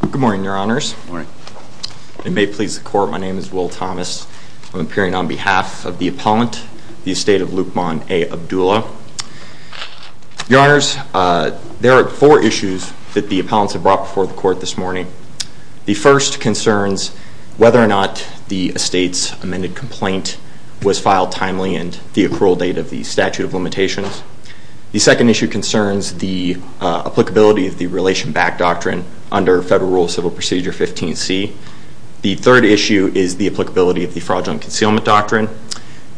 Good morning, your honors. It may please the court, my name is Will Thomas. I'm appearing on behalf of the appellant, the estate of Luqman A Abdulla. Your honors, there are four issues that the appellants have brought before the court this morning. The first concerns whether or not the estate's amended complaint was filed timely and the approval date of the statute of limitations. The second issue concerns the applicability of the Relation Back Doctrine under Federal Rule of Civil Procedure 15C. The third issue is the applicability of the Fraudulent Concealment Doctrine.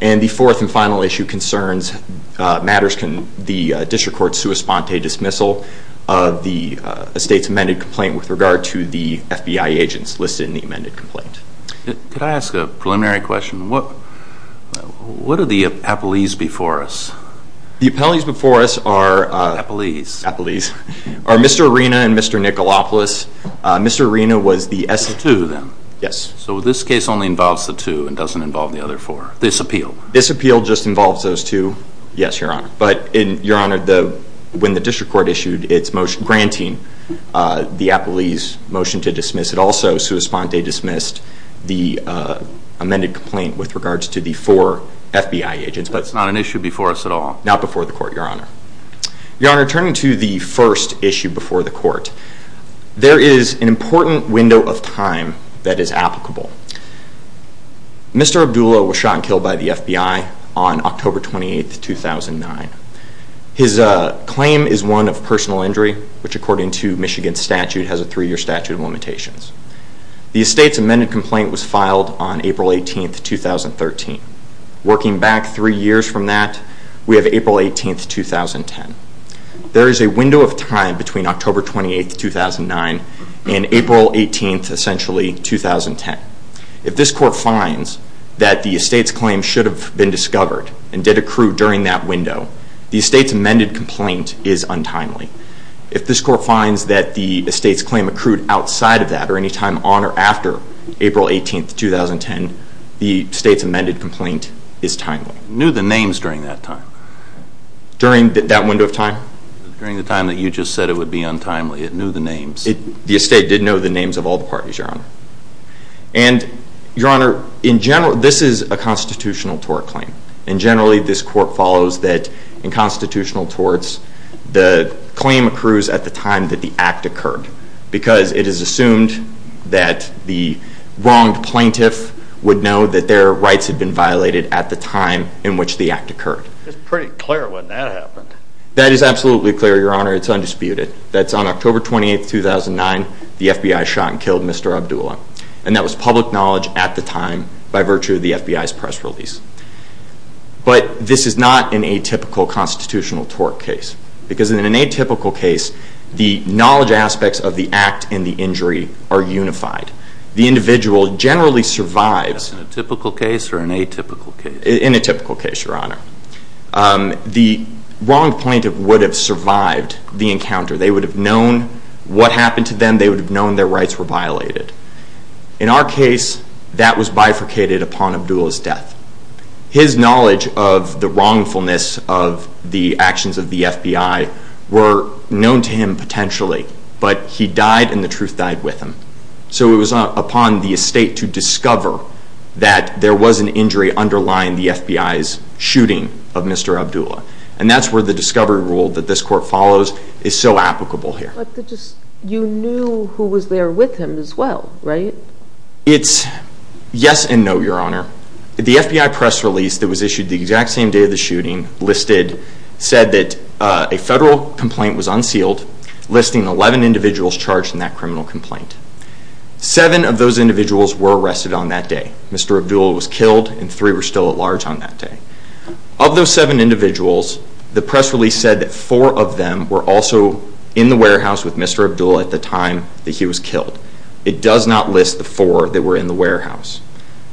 And the fourth and final issue concerns matters can the district court sue a sponte dismissal of the estate's amended complaint with regard to the FBI agents listed in the amended complaint. Could I ask a preliminary question? What are the appellees before us? The appellees before us are Mr. Arena and Mr. Nicolopoulos. Mr. Arena was the S-2 then? Yes. So this case only involves the two and doesn't involve the other four? This appeal? This appeal just involves those two, yes your honor. But your honor, when the district court issued its motion granting the appellees motion to dismiss, it also sue a sponte dismissed the amended complaint with regards to the four FBI agents. But it's not an issue before us at all? Not before the court, your honor. Your honor, turning to the first issue before the court, there is an important window of time that is applicable. Mr. Abdullah was shot and killed by the FBI on October 28, 2009. His claim is one of personal injury, which according to Michigan statute has a three year statute of limitations. The estate's amended complaint was filed on April 18, 2013. Working back three years from that, we have April 18, 2010. There is a window of time between October 28, 2009 and April 18, essentially 2010. If this court finds that the estate's claim should have been discovered and did accrue during that window, the estate's amended complaint is untimely. If this court finds that the estate's claim accrued outside of that or any time on or after April 18, 2010, the estate's amended complaint is timely. Knew the names during that time? During that window of time? During the time that you just said it would be untimely. It knew the names. The estate did know the names of all the parties, your honor. And your honor, in general, this is a constitutional tort claim. And generally, this court follows that in constitutional torts, the claim accrues at the time that the act occurred because it is assumed that the wronged plaintiff would know that their rights had been violated at the time in which the act occurred. It's pretty clear when that happened. That is absolutely clear, your honor. It's undisputed. That's on October 28, 2009, the FBI shot and killed Mr. Abdullah. And that was public knowledge at the time by virtue of the FBI's press release. But this is not an atypical constitutional tort case. Because in an atypical case, the knowledge aspects of the act and the injury are unified. The individual generally survives. That's in a typical case or an atypical case? In a typical case, your honor. The wronged plaintiff would have survived the encounter. They would have known what happened to them. They would have known their rights were violated. In our case, that was bifurcated upon Abdullah's death. His knowledge of the wrongfulness of the actions of the FBI were known to him potentially. But he died and the truth died with him. So it was upon the estate to discover that there was an injury underlying the FBI's shooting of Mr. Abdullah. And that's where the discovery rule that this court follows is so applicable here. You knew who was there with him as well, right? It's yes and no, your honor. The FBI press release that was issued the exact same day of the shooting said that a federal complaint was unsealed, listing 11 individuals charged in that criminal complaint. Seven of those individuals were arrested on that day. Mr. Abdullah was killed and three were still at large on that day. Of those seven individuals, the press release said that four of them were also in the warehouse with Mr. Abdullah at the time that he was killed. It does not list the four that were in the warehouse.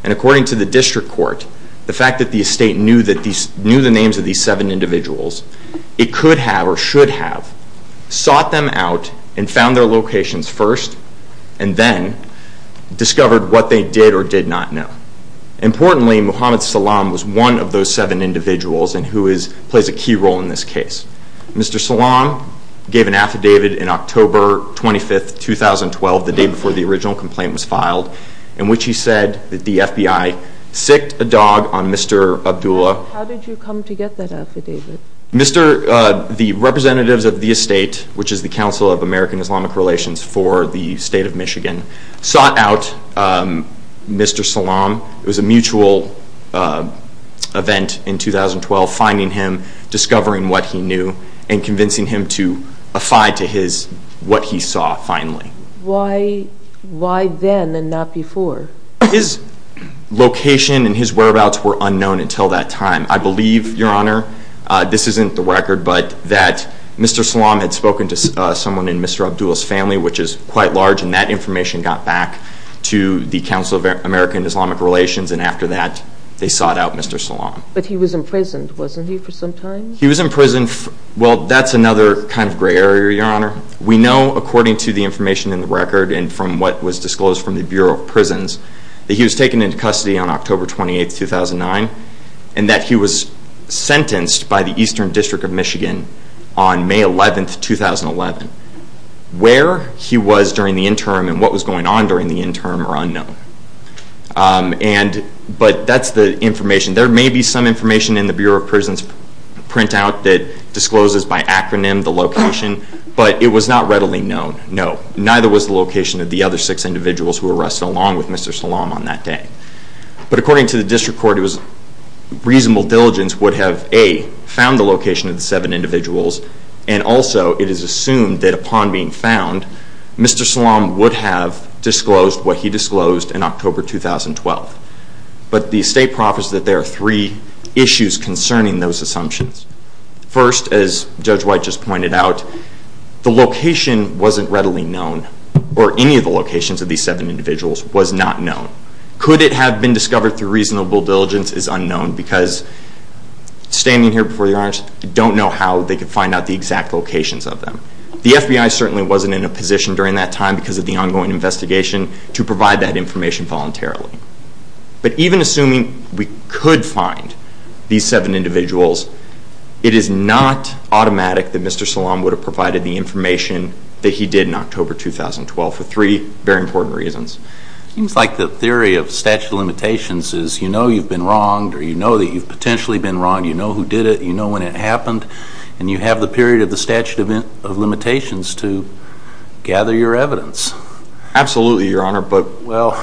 And according to the district court, the fact that the estate knew the names of these seven individuals, it could have or should have sought them out and found their locations first and then discovered what they did or did not know. Importantly, Mohammed Salam was one of those seven individuals and who plays a key role in this case. Mr. Salam gave an affidavit in October 25, 2012, the day before the original complaint was filed, in which he said that the FBI sicced a dog on Mr. Abdullah. How did you come to get that affidavit? The representatives of the estate, which is the Council of American Islamic Relations for the state of Michigan, sought out Mr. Salam. It was a mutual event in 2012, finding him, discovering what he knew, and convincing him to affide to what he saw finally. Why then and not before? His location and his whereabouts were unknown until that time. I believe, Your Honor, this is quite large, and that information got back to the Council of American Islamic Relations and after that, they sought out Mr. Salam. But he was imprisoned, wasn't he, for some time? He was imprisoned. Well, that's another kind of gray area, Your Honor. We know, according to the information in the record and from what was disclosed from the Bureau of Prisons, that he was taken into custody on October 28, 2009, and that he was sentenced by the District Court to 10 years in prison. He was during the interim, and what was going on during the interim are unknown. But that's the information. There may be some information in the Bureau of Prisons printout that discloses by acronym the location, but it was not readily known. No, neither was the location of the other six individuals who were arrested along with Mr. Salam on that day. But according to the District Court, it was reasonable diligence would have, A, found the location of the seven individuals, and also it is assumed that upon being found, Mr. Salam would have disclosed what he disclosed in October 2012. But the estate profits that there are three issues concerning those assumptions. First, as Judge White just pointed out, the location wasn't readily known, or any of the locations of these seven individuals was not known. Could it have been discovered through reasonable diligence is unknown, because standing here before you don't know how they could find out the exact locations of them. The FBI certainly wasn't in a position during that time, because of the ongoing investigation, to provide that information voluntarily. But even assuming we could find these seven individuals, it is not automatic that Mr. Salam would have provided the information that he did in October 2012 for three very important reasons. It seems like the theory of statute of limitations is you know you've been wronged, or you know that you've potentially been wronged, you know who did it, you know when it happened, and you have the period of the statute of limitations to gather your evidence. Absolutely, Your Honor, but... Well,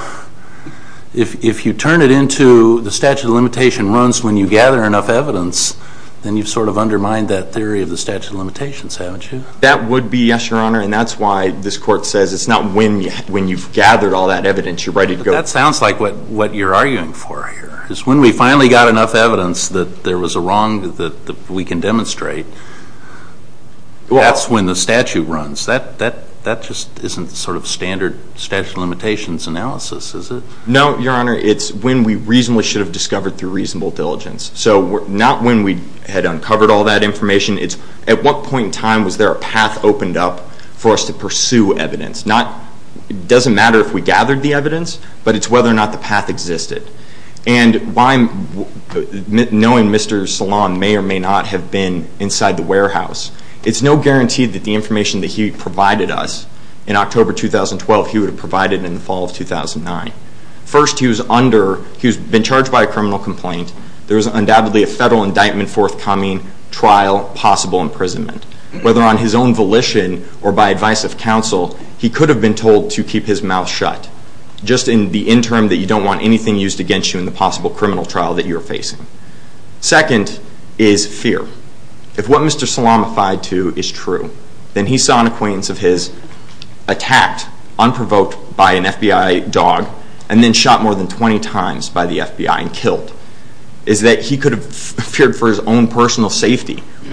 if you turn it into the statute of limitation runs when you gather enough evidence, then you've sort of undermined that theory of the statute of limitations, haven't you? That would be yes, Your Honor, and that's why this Court says it's not when you've gathered all that evidence you're ready to go. But that sounds like what you're arguing for here, is when we finally got enough evidence that there was a wrong that we can demonstrate, that's when the statute runs. That just isn't sort of standard statute of limitations analysis, is it? No, Your Honor, it's when we reasonably should have discovered through reasonable diligence. So not when we had uncovered all that information, it's at what point in time was there a path opened up for us to pursue evidence? It doesn't matter if we gathered the evidence, but it's whether or not the path existed. And knowing Mr. Salon may or may not have been inside the warehouse, it's no guarantee that the information that he provided us in October 2012, he would have provided in the fall of 2009. First, he was under, he's been charged by a criminal complaint, there was undoubtedly a federal indictment forthcoming, trial, possible imprisonment. Whether on his own volition or by advice of counsel, he could have been told to keep his mouth shut, just in the interim that you don't want anything used against you in the possible criminal trial that you're facing. Second is fear. If what Mr. Salon replied to is true, then he saw an acquaintance of his attacked, unprovoked by an FBI dog, and then shot more than 20 times by the FBI and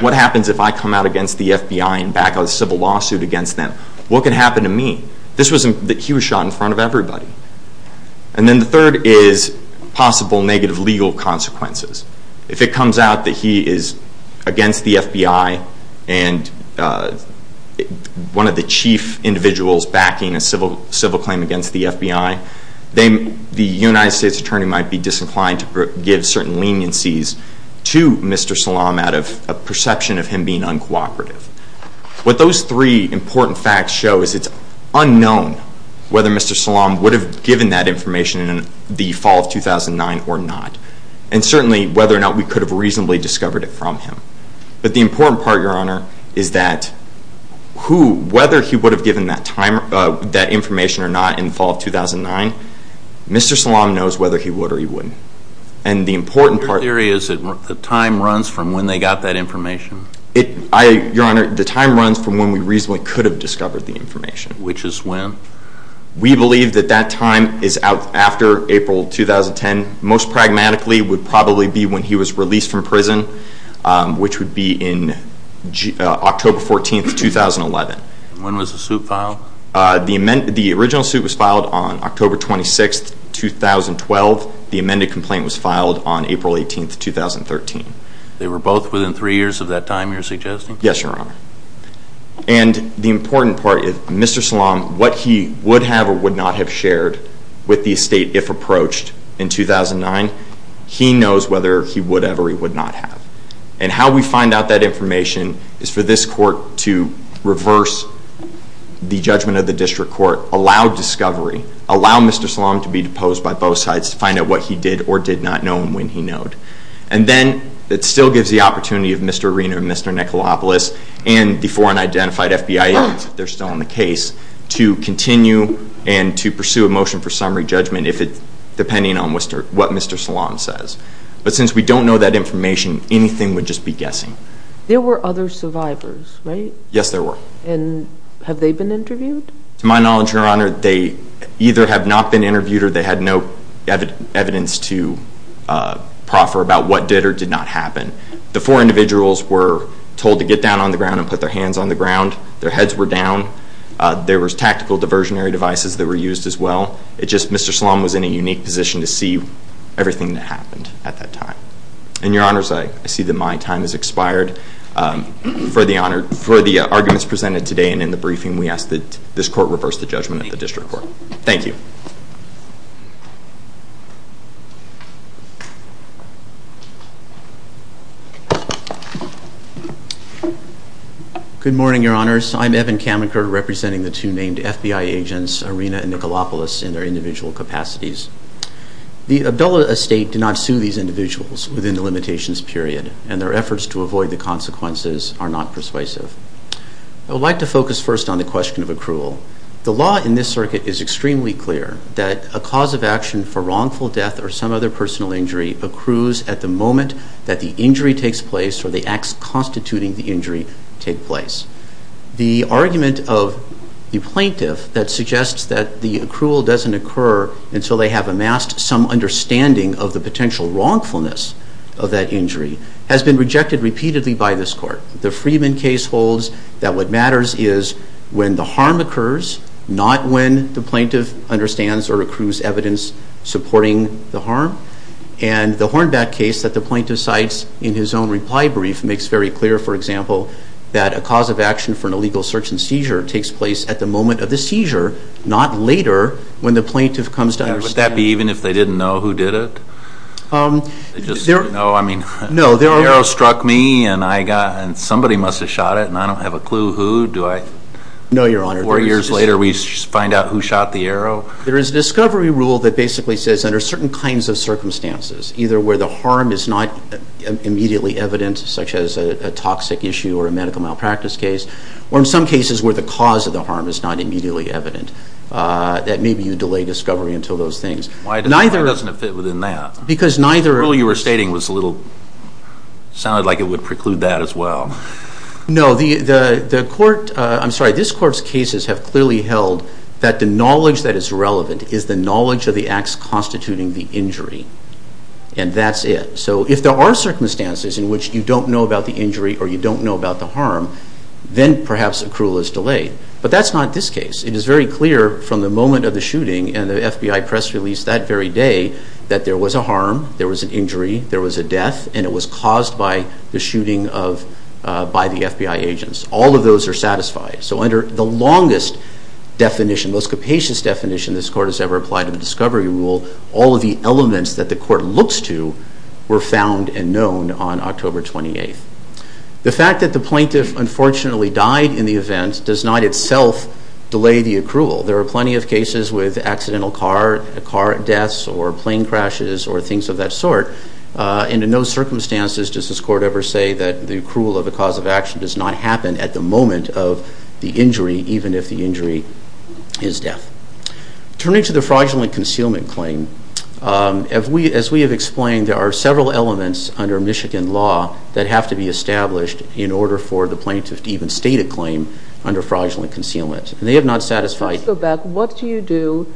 what happens if I come out against the FBI and back a civil lawsuit against them? What could happen to me? This was, he was shot in front of everybody. And then the third is possible negative legal consequences. If it comes out that he is against the FBI and one of the chief individuals backing a civil claim against the FBI, then the United States Attorney might be disinclined to give certain leniencies to Mr. Salon out of a perception of him being uncooperative. What those three important facts show is it's unknown whether Mr. Salon would have given that information in the fall of 2009 or not, and certainly whether or not we could have reasonably discovered it from him. But the important part, Your Honor, is that whether he would have given that information or not in the fall of 2009, Mr. Salon knows whether he would or he wouldn't. And the important part is that the time runs from when they got that information. Your Honor, the time runs from when we reasonably could have discovered the information. Which is when? We believe that that time is after April 2010. Most pragmatically, it would probably be when he was released from prison, which would be in October 14, 2011. When was the suit filed? The original suit was filed on October 26, 2012. The amended complaint was filed on April 18, 2013. They were both within three years of that time, you're suggesting? Yes, Your Honor. And the important part is Mr. Salon, what he would have or would not have shared with the estate if approached in 2009, he knows whether he would have or would not have. And how we find out that information is for this court to reverse the judgment of the district court, allow discovery, allow Mr. Salon to be deposed by both sides to find out what he did or did not know and when he knowed. And then it still gives the opportunity of Mr. Arena and Mr. Nikolaopoulos and the foreign identified FBI agents, if they're still on the case, to continue and to pursue a motion for summary judgment, depending on what Mr. Salon says. But since we don't know that information, anything would just be guessing. There were other survivors, right? Yes, there were. And have they been interviewed? To my knowledge, Your Honor, they either have not been interviewed or they had no evidence to proffer about what did or did not happen. The four individuals were told to get down on the ground and put their hands on the ground. Their heads were down. There was tactical diversionary devices that were used as well. It just, Mr. Salon was in a unique position to see everything that happened at that time. And Your Honors, I see that my time has expired. For the arguments presented today and in the briefing, we ask that this Court reverse the judgment of the District Court. Thank you. Good morning, Your Honors. I'm Evan Kamenker, representing the two named FBI agents, Arena and Nicolopoulos, in their individual capacities. The Abdullah estate did not sue these individuals within the limitations period, and their efforts to avoid the consequences are not persuasive. I would like to focus first on the question of accrual. The law in this circuit is extremely clear that a cause of action for wrongful death or some other personal injury accrues at the moment that the injury takes place or the acts constituting the injury take place. The argument of the plaintiff that suggests that the accrual doesn't occur until they have amassed some understanding of the potential wrongfulness of that injury has been rejected repeatedly by this Court. The Freeman case holds that what matters is when the harm occurs, not when the plaintiff understands or accrues evidence supporting the harm. And the Hornback case that the plaintiff cites in his own reply brief makes very clear, for example, that a cause of action for an illegal search and seizure takes place at the moment of the seizure, not later when the plaintiff comes to understand. Would that be even if they didn't know who did it? Um, there... They just didn't know? I mean... No, there are... The arrow struck me, and I got, and somebody must have shot it, and I don't have a clue who. Do I... No, Your Honor. Four years later, we find out who shot the arrow? There is a discovery rule that basically says under certain kinds of circumstances, either where the harm is not immediately evident, such as a toxic issue or a medical malpractice case, or in some cases where the cause of the harm is not immediately evident, that maybe you delay discovery until those things. Why doesn't it fit within that? Because neither... The rule you were stating was a little... sounded like it would preclude that as well. No, the Court, I'm sorry, this Court's cases have clearly held that the knowledge that the injury, and that's it. So if there are circumstances in which you don't know about the injury or you don't know about the harm, then perhaps accrual is delayed. But that's not this case. It is very clear from the moment of the shooting and the FBI press release that very day that there was a harm, there was an injury, there was a death, and it was caused by the shooting of, uh, by the FBI agents. All of those are satisfied. So under the longest definition, most capacious definition this Court has ever applied to the discovery rule, all of the elements that the Court looks to were found and known on October 28th. The fact that the plaintiff unfortunately died in the event does not itself delay the accrual. There are plenty of cases with accidental car, car deaths, or plane crashes, or things of that sort. Uh, and in those circumstances does this Court ever say that the accrual of a cause of action does not happen at the moment of the injury, even if the injury is death. Turning to the fraudulent concealment claim, um, as we have explained, there are several elements under Michigan law that have to be established in order for the plaintiff to even state a claim under fraudulent concealment. And they have not satisfied. Let me go back. What do you do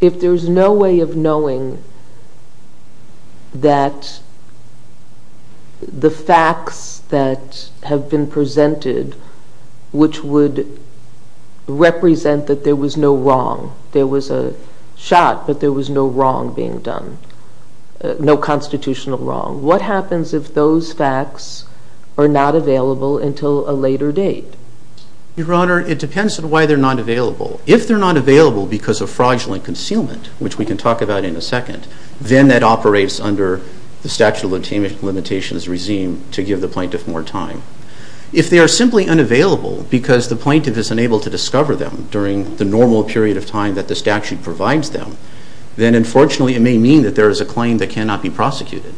if there's no way of knowing that the facts that have been presented, which would represent that there was no wrong, there was a shot, but there was no wrong being done, no constitutional wrong, what happens if those facts are not available until a later date? Your Honor, it depends on why they're not available. If they're not available because of fraudulent concealment, which we can talk about in a second, then that operates under the statute of limitations regime to give the plaintiff more time. If they are simply unavailable because the plaintiff is unable to discover them during the normal period of time that the statute provides them, then unfortunately it may mean that there is a claim that cannot be prosecuted.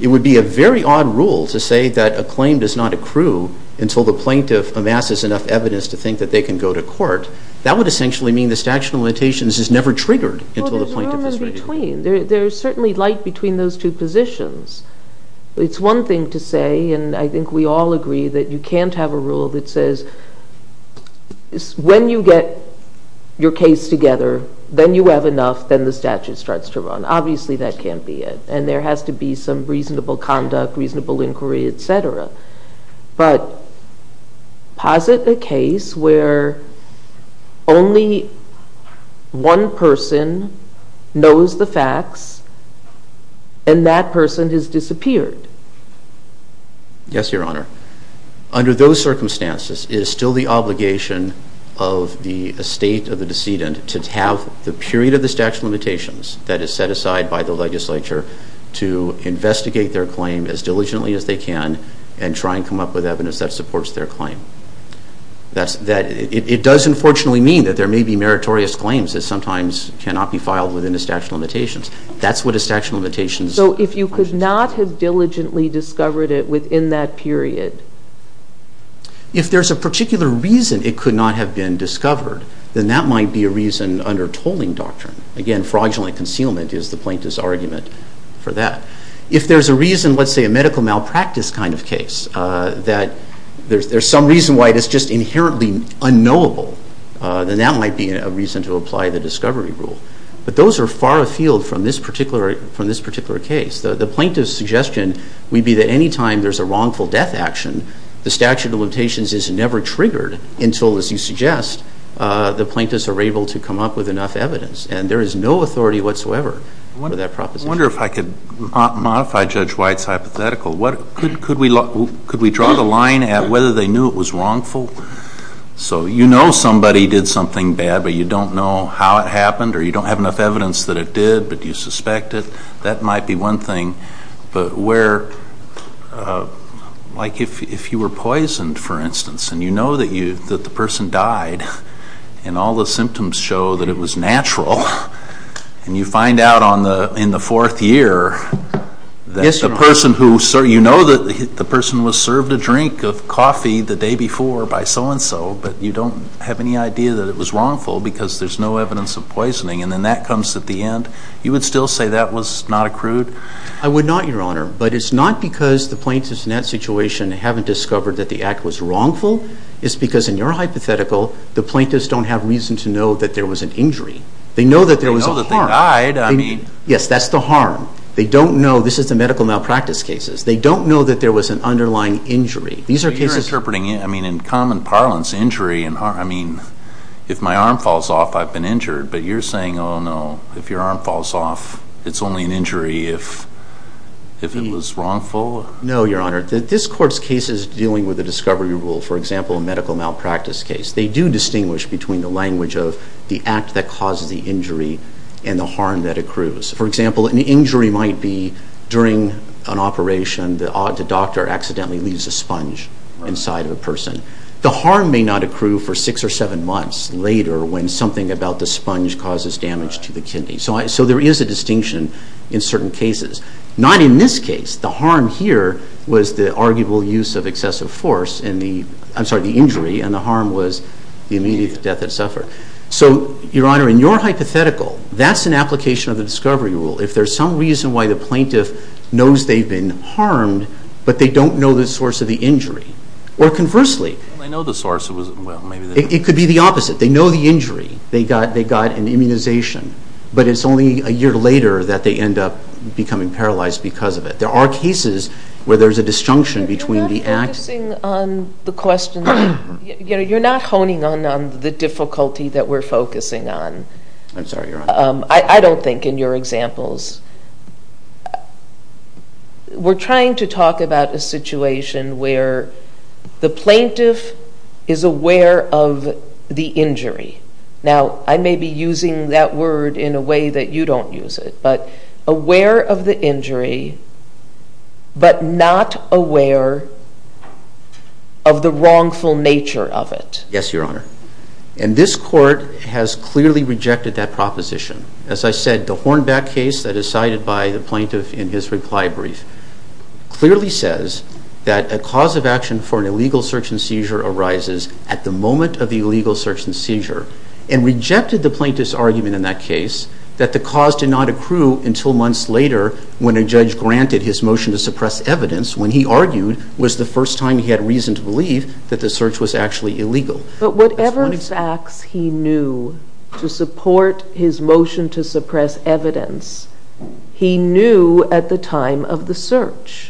It would be a very odd rule to say that a claim does not accrue until the plaintiff amasses enough evidence to think that they can go to court. That would essentially mean the statute of limitations is never triggered until the plaintiff is ready to go. Well, there's room in between. There's certainly light between those two positions. It's one thing to say, and I think we all agree, that you can't have a rule that says when you get your case together, then you have enough, then the statute starts to run. Obviously that can't be it. And there has to be some reasonable conduct, reasonable inquiry, et cetera. But posit a case where only one person knows the facts and that person has disappeared. Yes, Your Honor. Under those circumstances, it is still the obligation of the estate of the decedent to have the period of the statute of limitations that is set aside by the legislature to investigate their claim as diligently as they can and try and come up with evidence that supports their claim. It does unfortunately mean that there may be meritorious claims that sometimes cannot be filed within the statute of limitations. That's what a statute of limitations... So if you could not have diligently discovered it within that period? If there's a particular reason it could not have been discovered, then that might be a reason under tolling doctrine. Again, fraudulent concealment is the plaintiff's argument for that. If there's a reason, let's say a medical malpractice kind of case, that there's some reason why it is just inherently unknowable, then that might be a reason to apply the discovery rule. But those are far afield from this particular case. The plaintiff's suggestion would be that any time there's a wrongful death action, the statute of limitations is never triggered until, as you suggest, the plaintiffs are able to come up with enough evidence. And there is no authority whatsoever for that proposition. I wonder if I could modify Judge White's hypothetical. Could we draw the line at whether they knew it was wrongful? So you know somebody did something bad, but you don't know how it happened, or you don't have enough evidence that it did, but you suspect it. That might be one thing, but where... Like if you were poisoned, for instance, and you know that the person died, and all the that the person was served a drink of coffee the day before by so-and-so, but you don't have any idea that it was wrongful because there's no evidence of poisoning, and then that comes at the end, you would still say that was not accrued? I would not, Your Honor. But it's not because the plaintiffs in that situation haven't discovered that the act was wrongful. It's because, in your hypothetical, the plaintiffs don't have reason to know that there was an injury. They know that there was a harm. They know that they died. I mean... Yes, that's the harm. They don't know. This is the medical malpractice cases. They don't know that there was an underlying injury. These are cases... But you're interpreting, I mean, in common parlance, injury and harm. I mean, if my arm falls off, I've been injured, but you're saying, oh no, if your arm falls off, it's only an injury if it was wrongful? No, Your Honor. This Court's case is dealing with a discovery rule. For example, a medical malpractice case. They do distinguish between the language of the act that causes the injury and the harm that accrues. For example, an injury might be, during an operation, the doctor accidentally leaves a sponge inside of a person. The harm may not accrue for six or seven months later when something about the sponge causes damage to the kidney. So there is a distinction in certain cases. Not in this case. The harm here was the arguable use of excessive force in the, I'm sorry, the injury, and the harm was the immediate death that suffered. So, Your Honor, in your hypothetical, that's an application of the discovery rule. If there's some reason why the plaintiff knows they've been harmed, but they don't know the source of the injury, or conversely, it could be the opposite. They know the injury. They got an immunization, but it's only a year later that they end up becoming paralyzed because of it. There are cases where there's a disjunction between the act. Focusing on the question, you know, you're not honing on the difficulty that we're focusing on. I'm sorry, Your Honor. I don't think in your examples. We're trying to talk about a situation where the plaintiff is aware of the injury. Now, I may be using that word in a way that you don't use it, but aware of the injury, but not aware of the wrongful nature of it. Yes, Your Honor. And this Court has clearly rejected that proposition. As I said, the Hornback case that is cited by the plaintiff in his reply brief clearly says that a cause of action for an illegal search and seizure arises at the moment of the illegal search and seizure, and rejected the plaintiff's argument in that case that the cause did not accrue until months later when a judge granted his motion to suppress evidence, when he argued was the first time he had reason to believe that the search was actually illegal. But whatever facts he knew to support his motion to suppress evidence, he knew at the time of the search.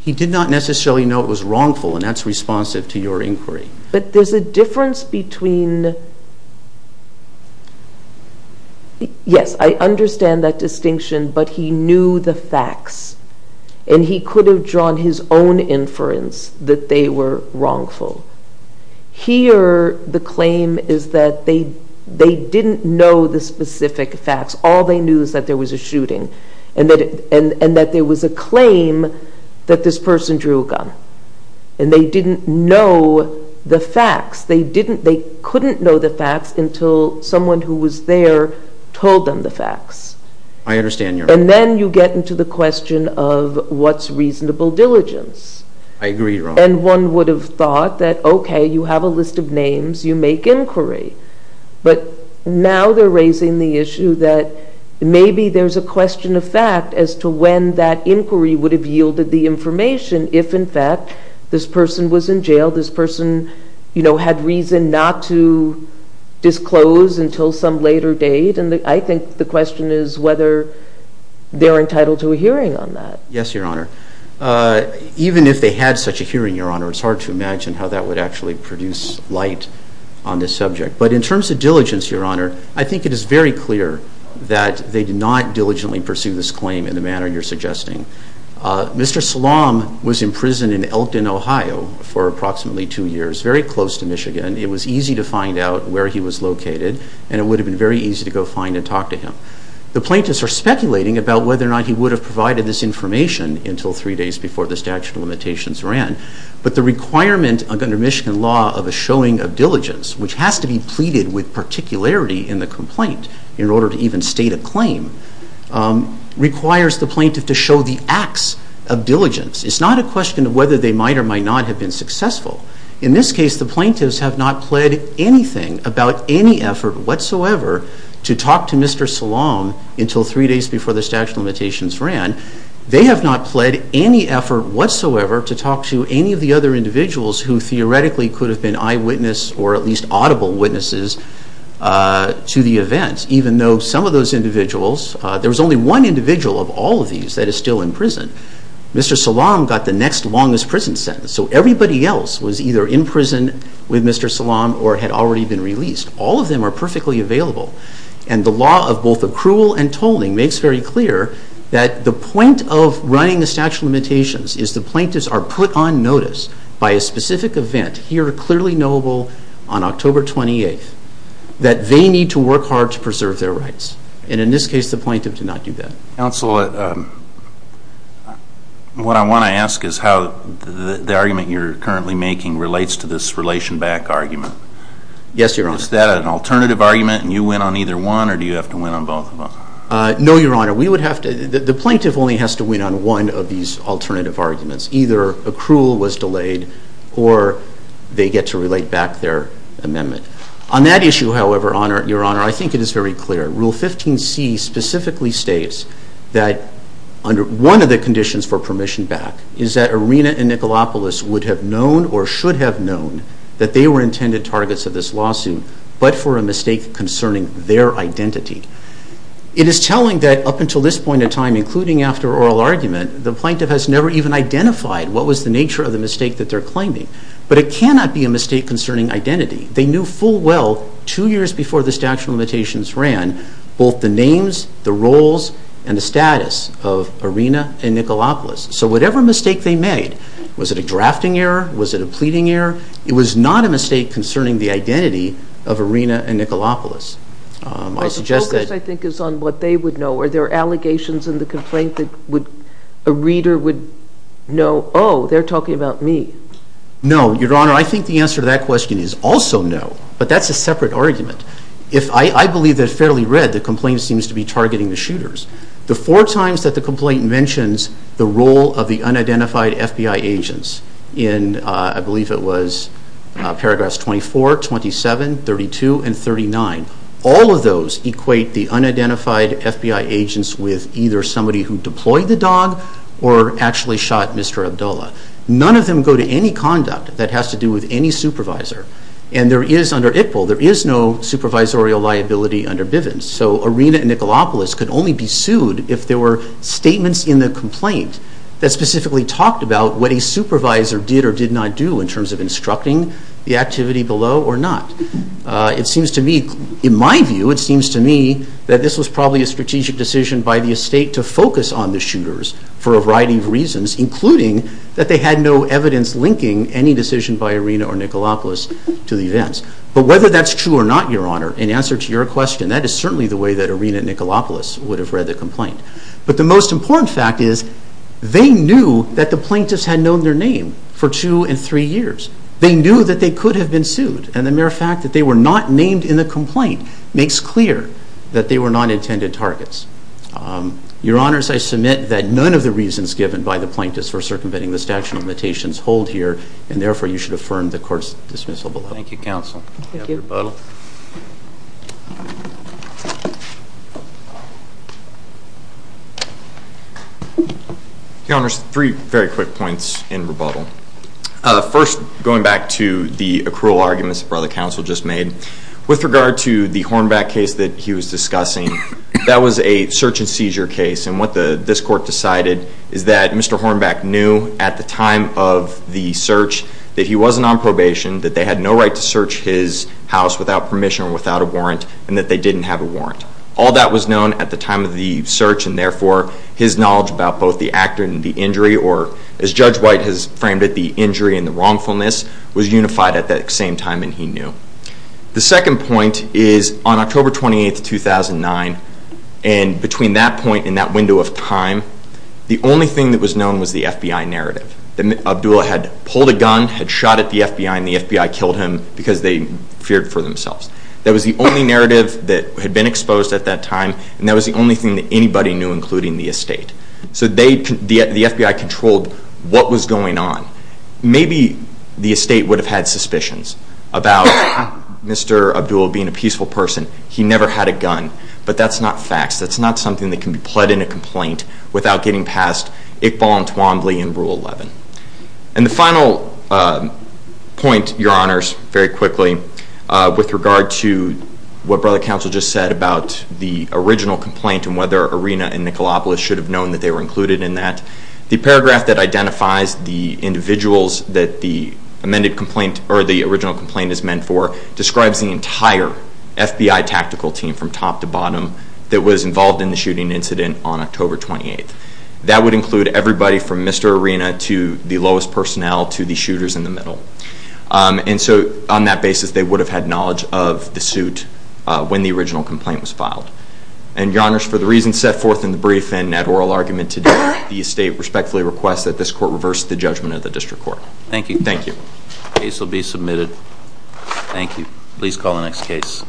He did not necessarily know it was wrongful, and that's responsive to your inquiry. But there's a difference between, yes, I understand that distinction, but he knew the facts, and he could have drawn his own inference that they were wrongful. Here the claim is that they didn't know the specific facts. All they knew is that there was a shooting, and that there was a claim that this person drew a gun, and they didn't know the facts. They couldn't know the facts until someone who was there told them the facts. I understand, Your Honor. And then you get into the question of what's reasonable diligence. I agree, Your Honor. And one would have thought that, okay, you have a list of names, you make inquiry. But now they're raising the issue that maybe there's a question of fact as to when that if, in fact, this person was in jail, this person had reason not to disclose until some later date. And I think the question is whether they're entitled to a hearing on that. Yes, Your Honor. Even if they had such a hearing, Your Honor, it's hard to imagine how that would actually produce light on this subject. But in terms of diligence, Your Honor, I think it is very clear that they did not diligently pursue this claim in the manner you're suggesting. Mr. Salam was in prison in Elton, Ohio, for approximately two years, very close to Michigan. It was easy to find out where he was located, and it would have been very easy to go find and talk to him. The plaintiffs are speculating about whether or not he would have provided this information until three days before the statute of limitations ran. But the requirement under Michigan law of a showing of diligence, which has to be pleaded with particularity in the complaint in order to even state a claim, requires the plaintiff to show the acts of diligence. It's not a question of whether they might or might not have been successful. In this case, the plaintiffs have not pled anything about any effort whatsoever to talk to Mr. Salam until three days before the statute of limitations ran. They have not pled any effort whatsoever to talk to any of the other individuals who theoretically could have been eyewitness or at least audible witnesses to the event, even though some of those individuals, there was only one individual of all of these that is still in prison. Mr. Salam got the next longest prison sentence, so everybody else was either in prison with Mr. Salam or had already been released. All of them are perfectly available, and the law of both accrual and tolling makes very clear that the point of running the statute of limitations is the plaintiffs are put on notice by a specific event, here clearly knowable on October 28th, that they need to work hard to preserve their rights. And in this case, the plaintiff did not do that. Counsel, what I want to ask is how the argument you're currently making relates to this relation back argument. Yes, Your Honor. Is that an alternative argument and you win on either one or do you have to win on both of them? No, Your Honor. We would have to, the plaintiff only has to win on one of these alternative arguments. Either accrual was delayed or they get to relate back their amendment. On that issue, however, Your Honor, I think it is very clear. Rule 15C specifically states that one of the conditions for permission back is that Arena and Nikolaopoulos would have known or should have known that they were intended targets of this lawsuit, but for a mistake concerning their identity. It is telling that up until this point in time, including after oral argument, the plaintiff has never even identified what was the nature of the mistake that they're claiming. But it cannot be a mistake concerning identity. They knew full well two years before the statute of limitations ran both the names, the roles, and the status of Arena and Nikolaopoulos. So whatever mistake they made, was it a drafting error? Was it a pleading error? It was not a mistake concerning the identity of Arena and Nikolaopoulos. I suggest that... Well, the focus, I think, is on what they would know. Are there allegations in the complaint that a reader would know, oh, they're talking about me? No, Your Honor. Your Honor, I think the answer to that question is also no, but that's a separate argument. If I believe that it's fairly read, the complaint seems to be targeting the shooters. The four times that the complaint mentions the role of the unidentified FBI agents in, I believe it was paragraphs 24, 27, 32, and 39, all of those equate the unidentified FBI agents with either somebody who deployed the dog or actually shot Mr. Abdullah. None of them go to any conduct that has to do with any supervisor. And there is, under ITPL, there is no supervisorial liability under Bivens. So Arena and Nikolaopoulos could only be sued if there were statements in the complaint that specifically talked about what a supervisor did or did not do in terms of instructing the activity below or not. It seems to me, in my view, it seems to me that this was probably a strategic decision by the estate to focus on the shooters for a variety of reasons, including that they had no evidence linking any decision by Arena or Nikolaopoulos to the events. But whether that's true or not, Your Honor, in answer to your question, that is certainly the way that Arena and Nikolaopoulos would have read the complaint. But the most important fact is they knew that the plaintiffs had known their name for two and three years. They knew that they could have been sued, and the mere fact that they were not named in the complaint makes clear that they were non-intended targets. Your Honors, I submit that none of the reasons given by the plaintiffs for circumventing the statute of limitations hold here, and therefore you should affirm the court's dismissal Thank you, Counsel. Thank you. We have rebuttal. Your Honors, three very quick points in rebuttal. First, going back to the accrual arguments that Brother Counsel just made, with regard to the Hornback case that he was discussing, that was a search and seizure case. And what this court decided is that Mr. Hornback knew at the time of the search that he wasn't on probation, that they had no right to search his house without permission or without a warrant, and that they didn't have a warrant. All that was known at the time of the search, and therefore his knowledge about both the injury and the wrongfulness was unified at that same time, and he knew. The second point is on October 28, 2009, and between that point and that window of time, the only thing that was known was the FBI narrative, that Abdul had pulled a gun, had shot at the FBI, and the FBI killed him because they feared for themselves. That was the only narrative that had been exposed at that time, and that was the only thing that anybody knew, including the estate. So the FBI controlled what was going on. Maybe the estate would have had suspicions about Mr. Abdul being a peaceful person. He never had a gun. But that's not facts. That's not something that can be pled in a complaint without getting past Iqbal and Twombly in Rule 11. And the final point, Your Honors, very quickly, with regard to what Brother Counsel just said about the original complaint and whether Arena and Nicolopolis should have known that they were included in that, the paragraph that identifies the individuals that the amended complaint or the original complaint is meant for describes the entire FBI tactical team from top to bottom that was involved in the shooting incident on October 28. That would include everybody from Mr. Arena to the lowest personnel to the shooters in the middle. And so on that basis, they would have had knowledge of the suit when the original complaint was filed. And, Your Honors, for the reasons set forth in the brief and that oral argument today, the estate respectfully requests that this Court reverse the judgment of the District Court. Thank you. Thank you. The case will be submitted. Thank you. Please call the next case.